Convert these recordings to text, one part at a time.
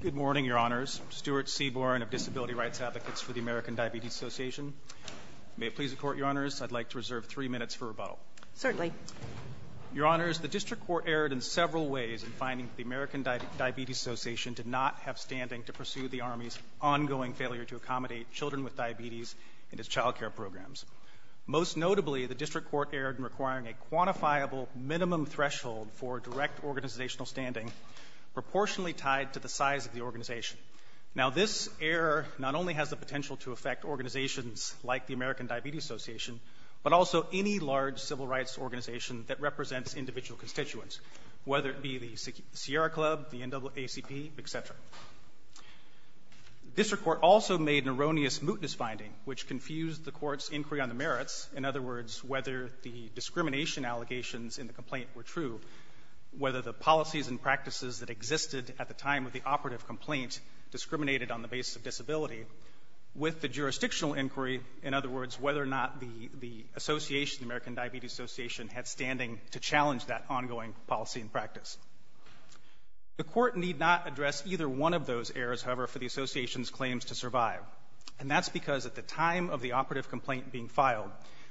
Good morning, Your Honors. Stuart Seaborn of Disability Rights Advocates for the American Diabetes Association. May it please the Court, Your Honors, I'd like to reserve three minutes for rebuttal. Certainly. Your Honors, the District Court erred in several ways in finding that the American Diabetes Association did not have standing to pursue the Army's ongoing failure to accommodate children with diabetes in its child care programs. Most notably, the District Court erred in requiring a quantifiable minimum threshold for direct organizational standing proportionally tied to the size of the organization. Now, this error not only has the potential to affect organizations like the American Diabetes Association, but also any large civil rights organization that represents individual constituents, whether it be the Sierra Club, the NAACP, etc. The District Court also made an erroneous mootness finding which confused the Court's inquiry on the merits, in other words, whether the policies and practices that existed at the time of the operative complaint discriminated on the basis of disability, with the jurisdictional inquiry, in other words, whether or not the association, the American Diabetes Association, had standing to challenge that ongoing policy and practice. The Court need not address either one of those errors, however, for the association's claims to survive. And that's because at the time of the operative complaint being filed,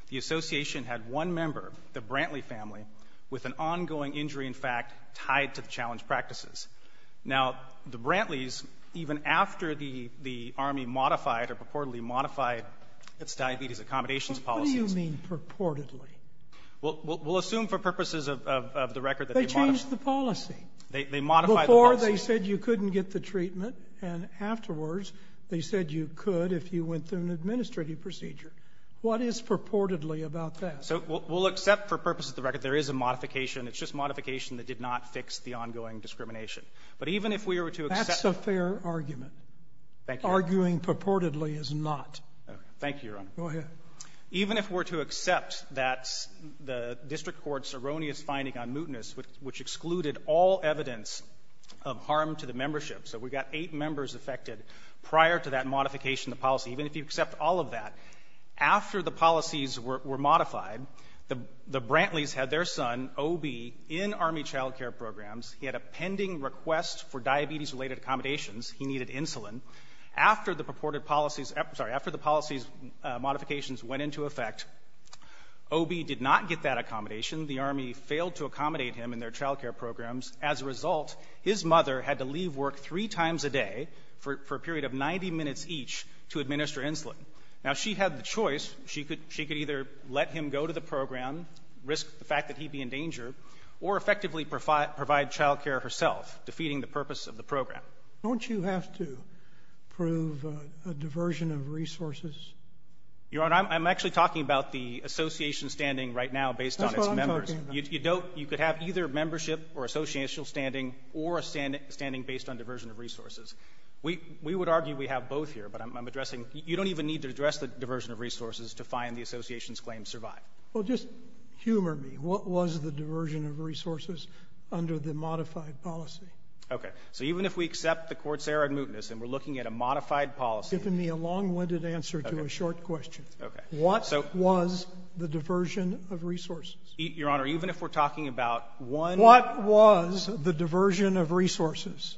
the association had one member, the Brantley family, with an ongoing injury, in fact, tied to the challenge practices. Now, the Brantleys, even after the Army modified or purportedly modified its diabetes accommodations policies ---- Sotomayor, what do you mean, purportedly? We'll assume for purposes of the record that they modified the policy. They modified the policy. Before, they said you couldn't get the treatment, and afterwards, they said you could if you went through an administrative procedure. What is purportedly about that? So we'll accept for purposes of the record there is a modification. It's just modification that did not fix the ongoing discrimination. But even if we were to accept ---- That's a fair argument. Thank you, Your Honor. Arguing purportedly is not. Thank you, Your Honor. Go ahead. Even if we're to accept that the district court's erroneous finding on mootness, which excluded all evidence of harm to the membership, so we got eight members affected prior to that modification of the policy, even if you accept all of that, after the policies were modified, the Brantleys had their son, O.B., in Army child care programs. He had a pending request for diabetes-related accommodations. He needed insulin. After the purported policies ---- sorry. After the policy's modifications went into effect, O.B. did not get that accommodation. The Army failed to accommodate him in their child care programs. As a result, his mother had to leave work three times a day for a period of 90 minutes each to administer insulin. Now, she had the choice. She could either let him go to the program, risk the fact that he'd be in danger, or effectively provide child care herself, defeating the purpose of the program. Don't you have to prove a diversion of resources? Your Honor, I'm actually talking about the association standing right now based on its members. That's what I'm talking about. You don't ---- you could have either membership or associational standing or a standing based on diversion of resources. We would argue we have both here, but I'm addressing ---- you don't even need to address the diversion of resources to find the association's claims survive. Well, just humor me. What was the diversion of resources under the modified policy? Okay. So even if we accept the Court's error and mootness and we're looking at a modified policy ---- Give me a long-winded answer to a short question. Okay. What was the diversion of resources? Your Honor, even if we're talking about one ---- What was the diversion of resources?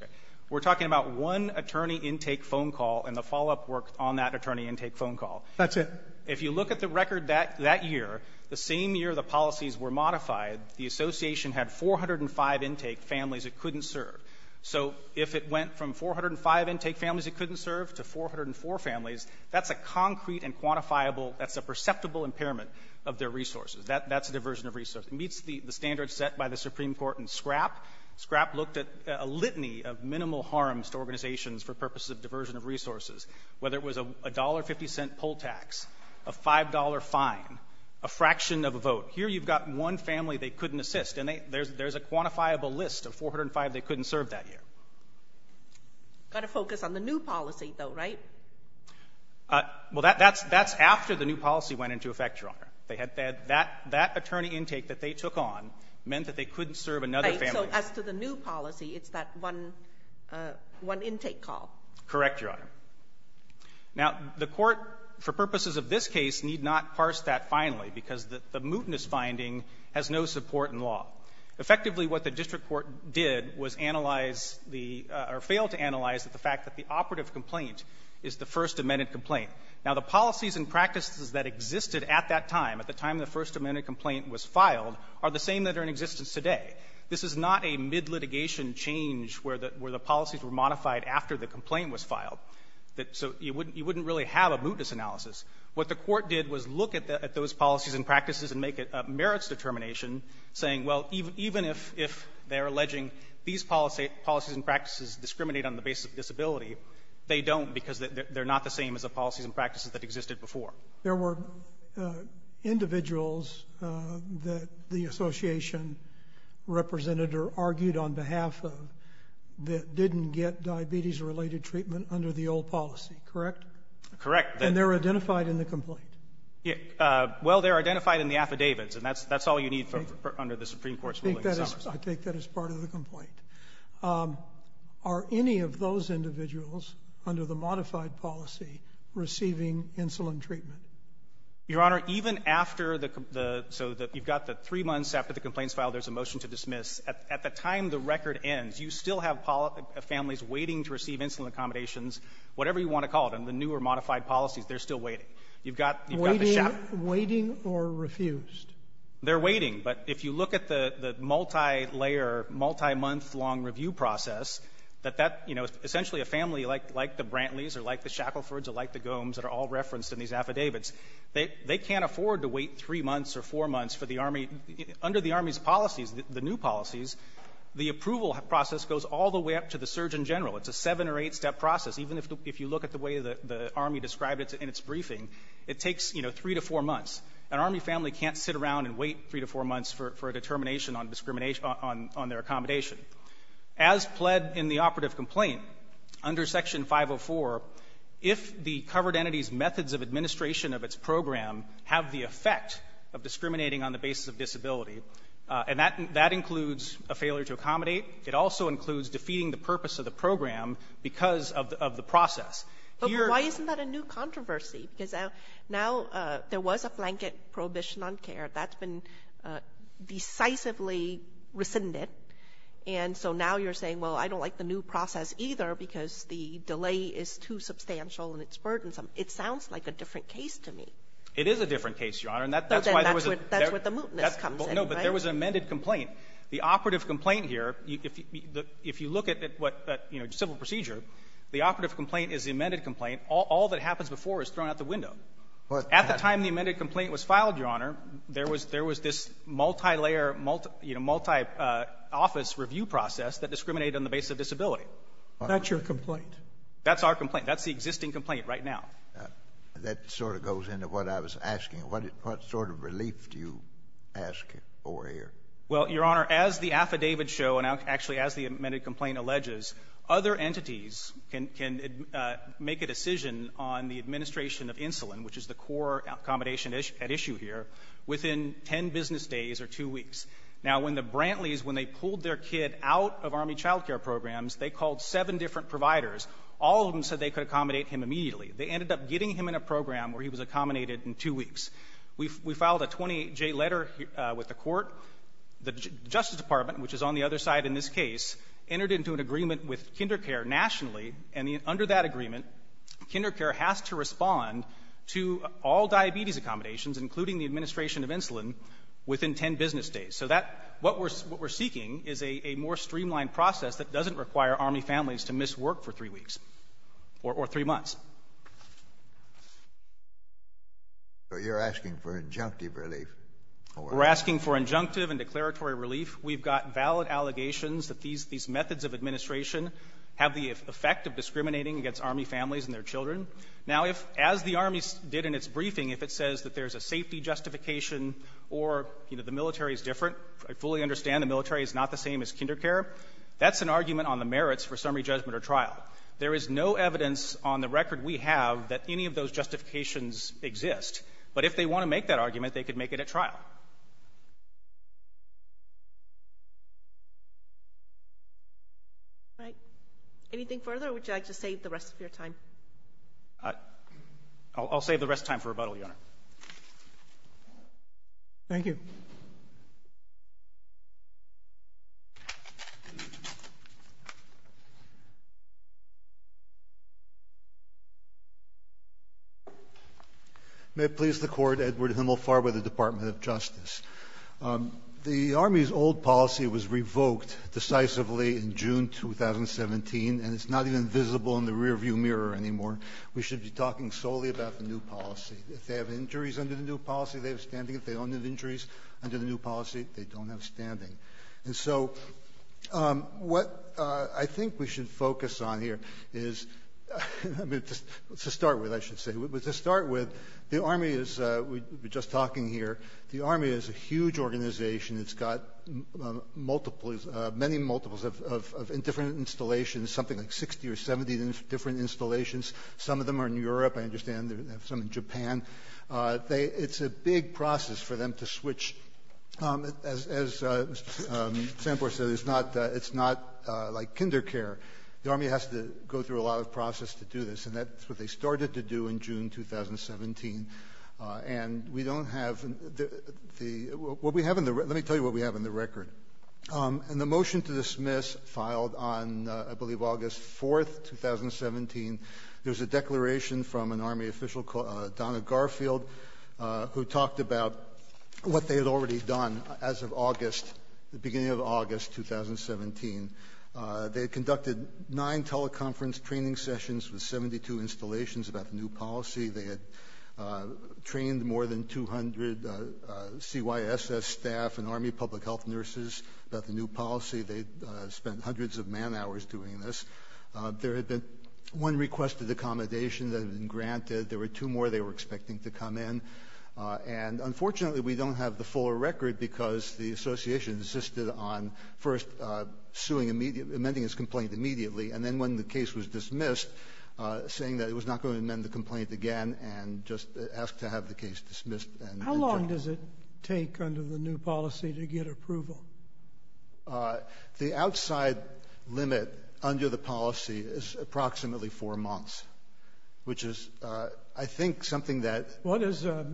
We're talking about one attorney intake phone call and the follow-up work on that attorney intake phone call. That's it. If you look at the record that year, the same year the policies were modified, the association had 405 intake families it couldn't serve. So if it went from 405 intake families it couldn't serve to 404 families, that's a concrete and quantifiable ---- that's a perceptible impairment of their resources. That's a diversion of resources. It meets the standards set by the Supreme Court in Scrapp. Scrapp looked at a litany of minimal harms to organizations for purposes of diversion of resources, whether it was a $1.50 poll tax, a $5 fine, a fraction of a vote. Here you've got one family they couldn't assist. And there's a quantifiable list of 405 they couldn't serve that year. You've got to focus on the new policy, though, right? Well, that's after the new policy went into effect, Your Honor. That attorney intake that they took on meant that they couldn't serve another family. So as to the new policy, it's that one intake call. Correct, Your Honor. Now, the Court, for purposes of this case, need not parse that finally, because the mootness finding has no support in law. Effectively, what the district court did was analyze the or failed to analyze the fact that the operative complaint is the first amended complaint. Now, the policies and practices that existed at that time, at the time the first amended complaint was filed, are the same that are in existence today. This is not a mid-litigation change where the policies were modified after the complaint was filed, so you wouldn't really have a mootness analysis. What the court did was look at those policies and practices and make it a merits determination, saying, well, even if they're alleging these policies and practices discriminate on the basis of disability, they don't because they're not the same as the policies and practices that existed before. There were individuals that the association represented or argued on behalf of that didn't get diabetes-related treatment under the old policy, correct? Correct. And they're identified in the complaint? Well, they're identified in the affidavits, and that's all you need under the Supreme Court's ruling. I take that as part of the complaint. Are any of those individuals under the modified policy receiving insulin treatment? Your Honor, even after the, so that you've got the three months after the complaints filed, there's a motion to dismiss, at the time the record ends, you still have families waiting to receive insulin accommodations, whatever you want to call it, on the new or modified policies, they're still waiting. You've got, you've got the shackle. Waiting or refused? They're waiting, but if you look at the multi-layer, multi-month long review process, that that, you know, essentially a family like the Brantleys or like the Shacklefords or like the Gohms that are all referenced in these affidavits, they, they can't afford to wait three months or four months for the Army. Under the Army's policies, the new policies, the approval process goes all the way up to the Surgeon General. It's a seven or eight-step process. Even if you look at the way the, the Army described it in its briefing, it takes, you know, three to four months. An Army family can't sit around and wait three to four months for, for a determination on discrimination on, on their accommodation. As pled in the operative complaint, under Section 504, if the covered entity's methods of administration of its program have the effect of discriminating on the basis of disability, and that, that includes a failure to accommodate, it also includes defeating the purpose of the program because of, of the process. Here — But why isn't that a new controversy? Because now, now there was a blanket prohibition on care. That's been decisively rescinded. And so now you're saying, well, I don't like the new process either because the delay is too substantial and it's burdensome. It sounds like a different case to me. It is a different case, Your Honor. And that, that's why there was a — But then that's where, that's where the mootness comes in, right? Well, no, but there was an amended complaint. The operative complaint here, if you, if you look at what, at, you know, civil procedure, the operative complaint is the amended complaint. All, all that happens before is thrown out the window. At the time the amended complaint was filed, Your Honor, there was, there was this multi-layer, you know, multi-office review process that discriminated on the basis of disability. That's your complaint. That's our complaint. That's the existing complaint right now. That sort of goes into what I was asking. What, what sort of relief do you ask over here? Well, Your Honor, as the affidavits show, and actually as the amended complaint alleges, other entities can, can make a decision on the administration of insulin, which is the core accommodation at issue here, within ten business days or two weeks. Now, when the Brantleys, when they pulled their kid out of Army child care programs, they called seven different providers. All of them said they could accommodate him immediately. They ended up getting him in a program where he was accommodated in two weeks. We, we filed a 28-J letter with the Court. The Justice Department, which is on the other side in this case, entered into an agreement with kinder care nationally, and under that agreement, kinder care has to respond to all diabetes accommodations, including the administration of insulin, within ten business days. So that, what we're, what we're seeking is a, a more streamlined process that doesn't require Army families to miss work for three weeks or, or three months. So you're asking for injunctive relief? We're asking for injunctive and declaratory relief. We've got valid allegations that these, these methods of administration have the effect of discriminating against Army families and their children. Now, if, as the Army did in its briefing, if it says that there's a safety justification or, you know, the military is different, I fully understand the military is not the same as kinder care, that's an argument on the merits for summary judgment or trial. There is no evidence on the record we have that any of those justifications exist. All right. Anything further, or would you like to save the rest of your time? I'll, I'll save the rest of time for rebuttal, Your Honor. Thank you. May it please the Court, Edward Himmelfarber, the Department of Justice. The Army's old policy was revoked decisively in June 2017, and it's not even visible in the rearview mirror anymore. We should be talking solely about the new policy. If they have injuries under the new policy, they have standing. If they don't have injuries under the new policy, they don't have standing. And so what I think we should focus on here is, I mean, to start with, I should say, to start with, the Army is, we were just talking here, the Army is a huge organization. It's got multiples, many multiples of different installations, something like 60 or 70 different installations. Some of them are in Europe, I understand, some in Japan. They, it's a big process for them to switch, as, as Sam said, it's not, it's not like kinder care. The Army has to go through a lot of process to do this, and that's what they started to do in June 2017. And we don't have the, what we have in the, let me tell you what we have in the record. In the motion to dismiss, filed on, I believe August 4th, 2017, there's a group in Garfield who talked about what they had already done as of August, the beginning of August 2017. They had conducted nine teleconference training sessions with 72 installations about the new policy. They had trained more than 200 CYSS staff and Army public health nurses about the new policy. They spent hundreds of man hours doing this. There had been one requested accommodation that had been granted. There were two more they were expecting to come in. And unfortunately, we don't have the full record because the association insisted on first suing immediate, amending his complaint immediately, and then when the case was dismissed, saying that it was not going to amend the complaint again, and just asked to have the case dismissed and rejected. How long does it take under the new policy to get approval? The outside limit under the policy is approximately four months, which is, I think, something that... What is a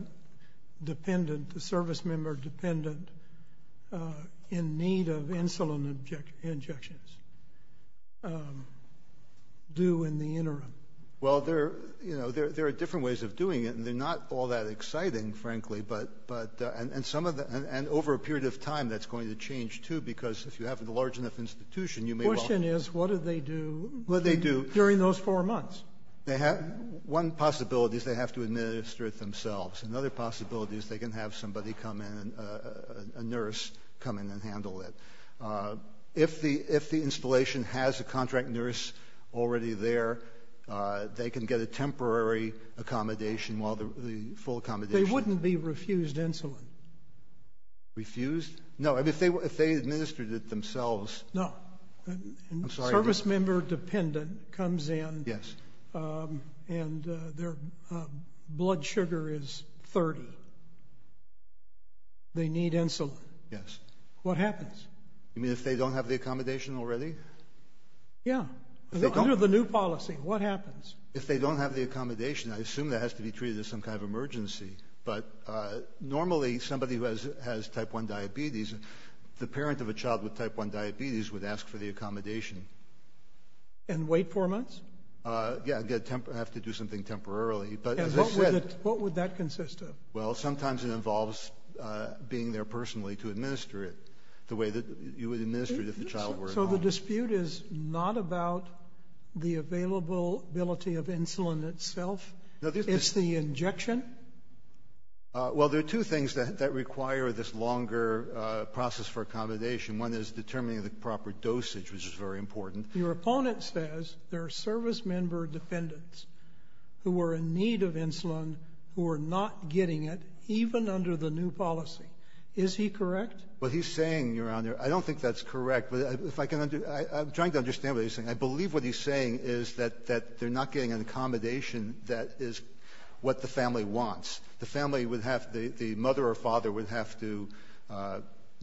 dependent, a service member dependent in need of insulin injections do in the interim? Well, there are different ways of doing it, and they're not all that exciting, frankly. And over a period of time, that's going to change, too, because if you have a large enough institution, you may well... The question is, what do they do during those four months? One possibility is they have to administer it themselves. Another possibility is they can have somebody come in, a nurse, come in and handle it. If the installation has a contract nurse already there, they can get a temporary accommodation while the full accommodation... But they wouldn't be refused insulin. Refused? No, if they administered it themselves... No. I'm sorry. Service member dependent comes in and their blood sugar is 30. They need insulin. Yes. What happens? You mean if they don't have the accommodation already? Yeah. Under the new policy, what happens? If they don't have the accommodation, I assume that has to be treated as some kind of emergency. But normally, somebody who has type 1 diabetes, the parent of a child with type 1 diabetes would ask for the accommodation. And wait four months? Yeah, have to do something temporarily. But as I said... What would that consist of? Well, sometimes it involves being there personally to administer it the way that you would administer it if the child were at home. So the dispute is not about the availability of insulin itself. It's the injection? Well, there are two things that require this longer process for accommodation. One is determining the proper dosage, which is very important. Your opponent says there are service member dependents who are in need of insulin who are not getting it, even under the new policy. Is he correct? What he's saying, Your Honor, I don't think that's correct. But if I can... I'm trying to understand what he's saying. I believe what he's saying is that they're not getting an accommodation that is what the family wants. The family would have to... The mother or father would have to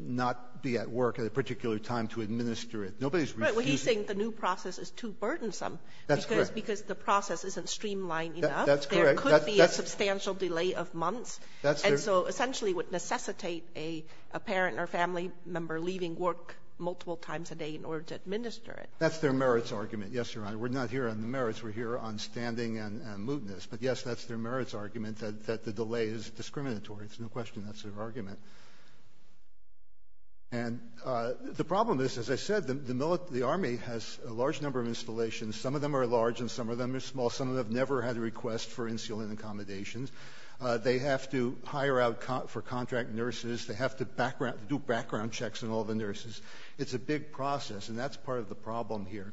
not be at work at a particular time to administer it. Nobody's refusing... Right. Well, he's saying the new process is too burdensome. That's correct. Because the process isn't streamlined enough. That's correct. There could be a substantial delay of months. And so, essentially, it would necessitate a parent or family member leaving work multiple times a day in order to administer it. That's their merits argument. Yes, Your Honor. We're not here on the merits. We're here on standing and mootness. But yes, that's their merits argument that the delay is discriminatory. It's no question that's their argument. And the problem is, as I said, the Army has a large number of installations. Some of them are large and some of them are small. Some of them have never had a request for insulin accommodations. They have to hire out for contract nurses. They have to do background checks on all the nurses. It's a big process. And that's part of the problem here.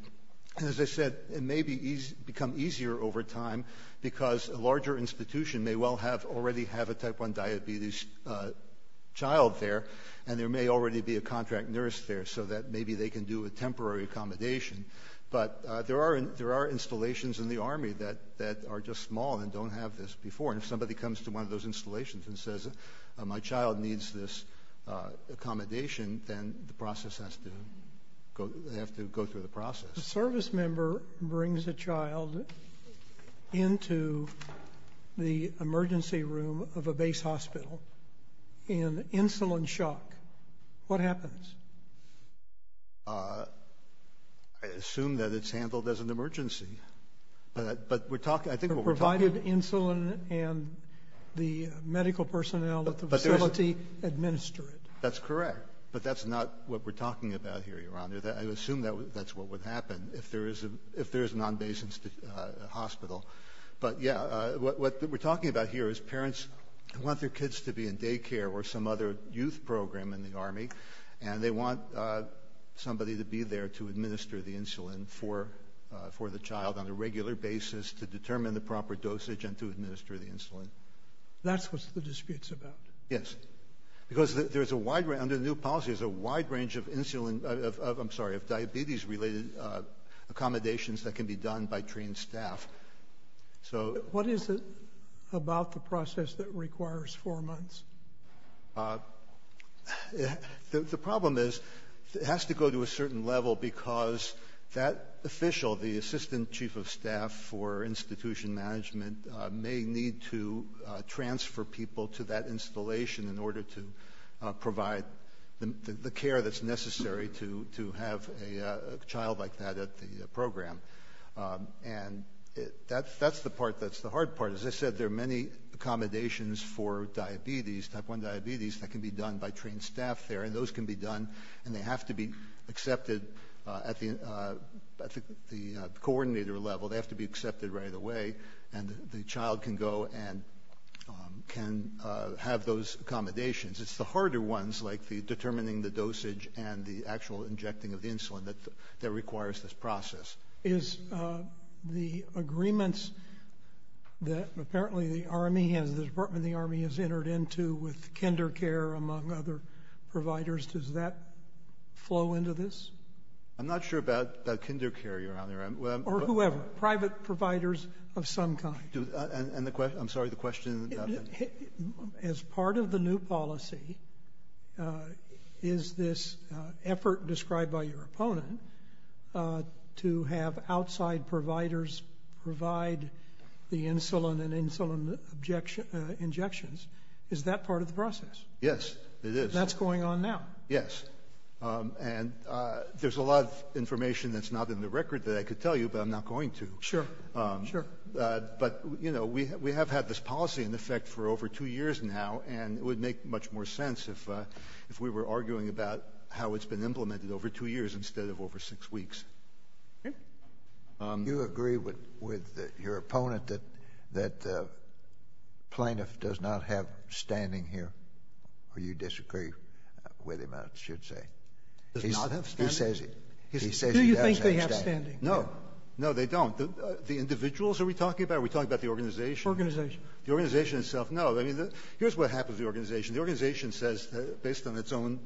And as I said, it may become easier over time because a larger institution may well have already have a type 1 diabetes child there. And there may already be a contract nurse there so that maybe they can do a temporary accommodation. But there are installations in the Army that are just small and don't have this before. And if somebody comes to one of those installations and says, my child needs this go, they have to go through the process. The service member brings a child into the emergency room of a base hospital in insulin shock. What happens? I assume that it's handled as an emergency, but we're talking, I think, provided insulin and the medical personnel at the facility administer it. That's correct. But that's not what we're talking about here, Your Honor, that I assume that that's what would happen if there is a if there is a non-basic hospital. But yeah, what we're talking about here is parents want their kids to be in daycare or some other youth program in the Army. And they want somebody to be there to administer the insulin for for the child on a regular basis to determine the proper dosage and to administer the insulin. That's what the dispute's about. Yes, because there is a wide range of new policies, a wide range of insulin of I'm sorry, of diabetes related accommodations that can be done by trained staff. So what is it about the process that requires four months? The problem is it has to go to a certain level because that official, the assistant chief of staff for institution management, may need to transfer people to that installation in order to provide the care that's necessary to to have a child like that at the program. And that's the part that's the hard part. As I said, there are many accommodations for diabetes, type one diabetes that can be done by trained staff there. And those can be done and they have to be accepted at the at the coordinator level. They have to be accepted right away and the child can go and can have those accommodations. It's the harder ones like the determining the dosage and the actual injecting of insulin that that requires this process is the agreements that apparently the army has, the department the army has entered into with kinder care, among other providers. Does that flow into this? I'm not sure about the kinder care you're on there or whoever, private providers of some kind. And I'm sorry, the question is, as part of the new policy, is this effort described by your opponent to have outside providers provide the insulin and insulin objection injections? Is that part of the process? Yes, it is. That's going on now. Yes. And there's a lot of information that's not in the record that I could tell you, but I'm not going to. Sure. Sure. But, you know, we have had this policy in effect for over two years now, and it would make much more sense if if we were arguing about how it's been implemented over two years instead of over six weeks. Do you agree with your opponent that the plaintiff does not have standing here, or you disagree with him, I should say? Does not have standing? He says he doesn't have standing. Do you think they have standing? No. No, they don't. The individuals are we talking about? Are we talking about the organization? Organization. The organization itself? No. I mean, here's what happens to the organization. The organization says, based on its own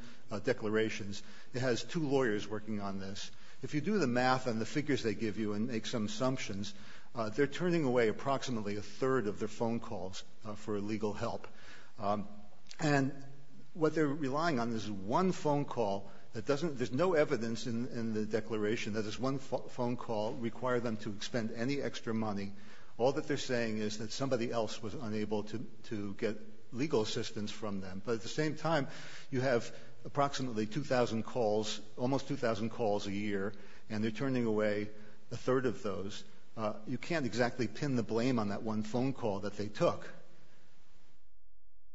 declarations, it has two lawyers working on this. If you do the math and the figures they give you and make some assumptions, they're turning away approximately a third of their phone calls for legal help. And what they're relying on is one phone call. There's no evidence in the declaration that this one phone call required them to expend any extra money. All that they're saying is that somebody else was unable to get legal assistance from them. But at the same time, you have approximately 2,000 calls, almost 2,000 calls a year, and they're turning away a third of those. You can't exactly pin the blame on that one phone call that they took.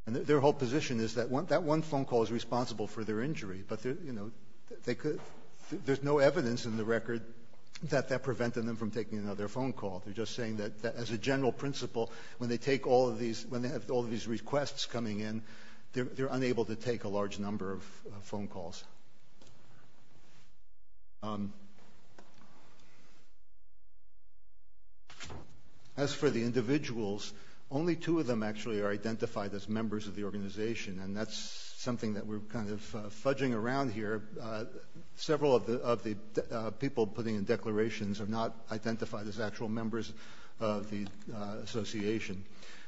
And their whole position is that that one phone call is responsible for their injury. But there's no evidence in the record that that prevented them from taking another phone call. They're just saying that, as a general principle, when they have all these requests coming in, they're unable to take a large number of phone calls. As for the individuals, only two of them actually are identified as members of the organization, and that's something that we're kind of fudging around here. Several of the people putting in declarations are not identified as actual members of the association.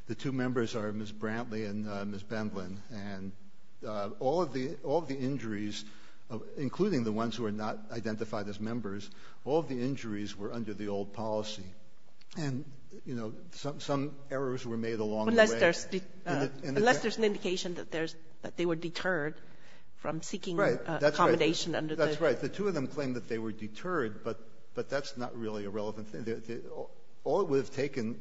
The two members are Ms. Brantley and Ms. Bendlin. And all of the injuries, including the ones who are not identified as members, all of the injuries were under the old policy. And, you know, some errors were made along the way. Kagan. Unless there's an indication that they were deterred from seeking accommodation under the ---- That's right. The two of them claim that they were deterred, but that's not really a relevant thing. All it would have taken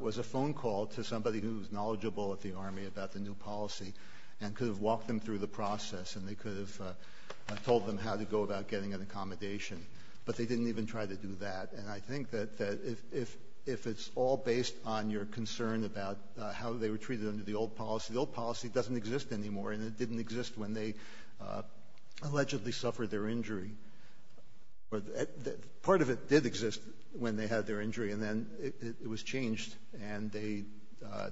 was a phone call to somebody who's knowledgeable at the Army about the new policy and could have walked them through the process, and they could have told them how to go about getting an accommodation. But they didn't even try to do that. And I think that if it's all based on your concern about how they were treated under the old policy, the old policy doesn't exist anymore, and it didn't exist when they allegedly suffered their injury. Part of it did exist when they had their injury, and then it was changed, and they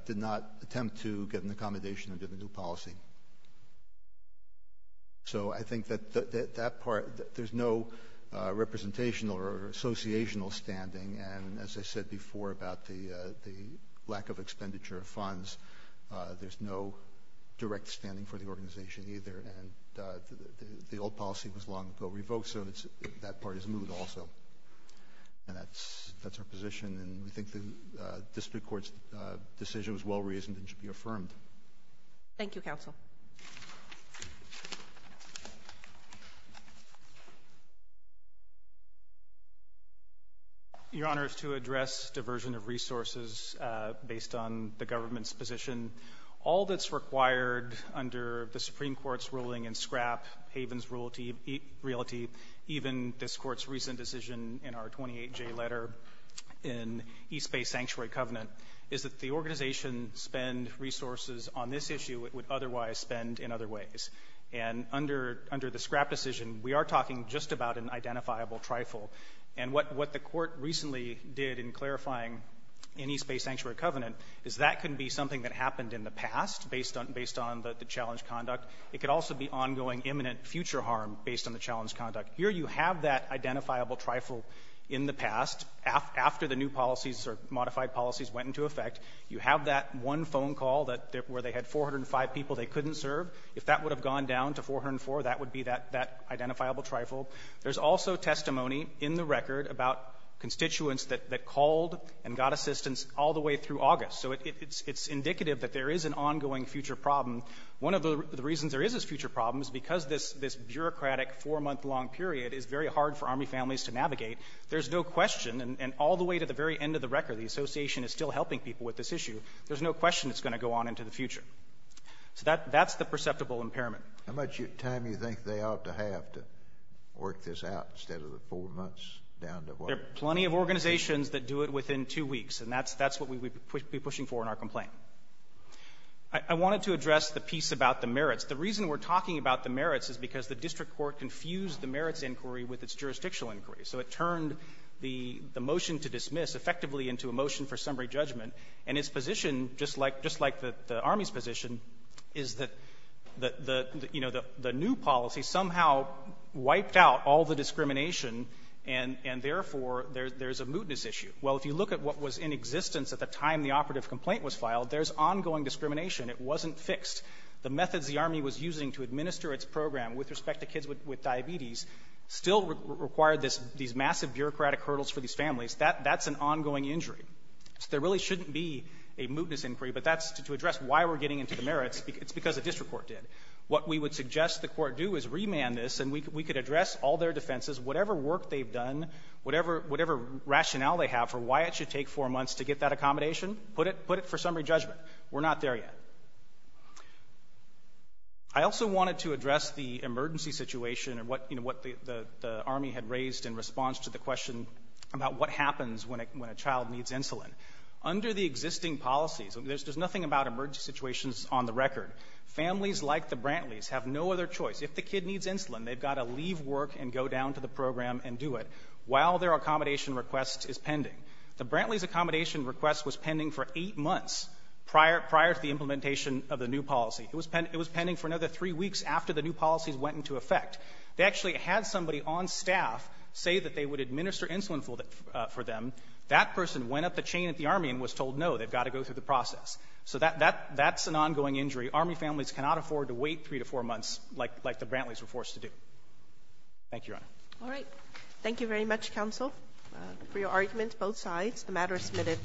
did not attempt to get an accommodation under the new policy. So I think that that part, there's no representational or associational standing. And as I said before about the lack of expenditure of funds, there's no direct standing for the organization either. And the old policy was long ago revoked, so that part is moved also. And that's our position, and we think the district court's decision was well-reasoned and should be affirmed. Your Honor, to address diversion of resources based on the government's position, all that's in the district court's ruling in scrap Havens Realty, even this court's recent decision in our 28-J letter in East Bay Sanctuary Covenant, is that the organization spend resources on this issue it would otherwise spend in other ways. And under the scrap decision, we are talking just about an identifiable trifle. And what the court recently did in clarifying in East Bay Sanctuary Covenant is that can be something that happened in the past based on the challenge conduct. It could also be ongoing, imminent future harm based on the challenge conduct. Here you have that identifiable trifle in the past after the new policies or modified policies went into effect. You have that one phone call where they had 405 people they couldn't serve. If that would have gone down to 404, that would be that identifiable trifle. There's also testimony in the record about constituents that called and got assistance all the way through August. So it's indicative that there is an ongoing future problem. One of the reasons there is this future problem is because this bureaucratic four-month-long period is very hard for Army families to navigate. There's no question, and all the way to the very end of the record, the association is still helping people with this issue. There's no question it's going to go on into the future. So that's the perceptible impairment. How much time do you think they ought to have to work this out instead of the four months down to what? There are plenty of organizations that do it within two weeks, and that's what we would be pushing for in our complaint. I wanted to address the piece about the merits. The reason we're talking about the merits is because the district court confused the merits inquiry with its jurisdictional inquiry. So it turned the motion to dismiss effectively into a motion for summary judgment, and its position, just like the Army's position, is that the, you know, the new policy somehow wiped out all the discrimination and, therefore, there's a mootness issue. Well, if you look at what was in existence at the time the operative complaint was filed, there's ongoing discrimination. It wasn't fixed. The methods the Army was using to administer its program with respect to kids with diabetes still required this — these massive bureaucratic hurdles for these families. That's an ongoing injury. So there really shouldn't be a mootness inquiry, but that's to address why we're getting into the merits. It's because the district court did. What we would suggest the court do is remand this, and we could address all their defenses, whatever work they've done, whatever rationale they have for why it should take four months to get that accommodation, put it for summary judgment. We're not there yet. I also wanted to address the emergency situation and what, you know, what the Army had raised in response to the question about what happens when a child needs insulin. Under the existing policies — there's nothing about emergency situations on the record — families like the Brantleys have no other choice. If the kid needs insulin, they've got to leave work and go down to the program and do it while their accommodation request is pending. The Brantleys' accommodation request was pending for eight months prior — prior to the implementation of the new policy. It was — it was pending for another three weeks after the new policies went into effect. They actually had somebody on staff say that they would administer insulin for them. That person went up the chain at the Army and was told, no, they've got to go through the process. So that — that — that's an ongoing injury. Army families cannot afford to wait three to four months like — like the Brantleys were forced to do. Thank you, Your Honor. All right. Thank you very much, counsel, for your argument, both sides. The matter is submitted.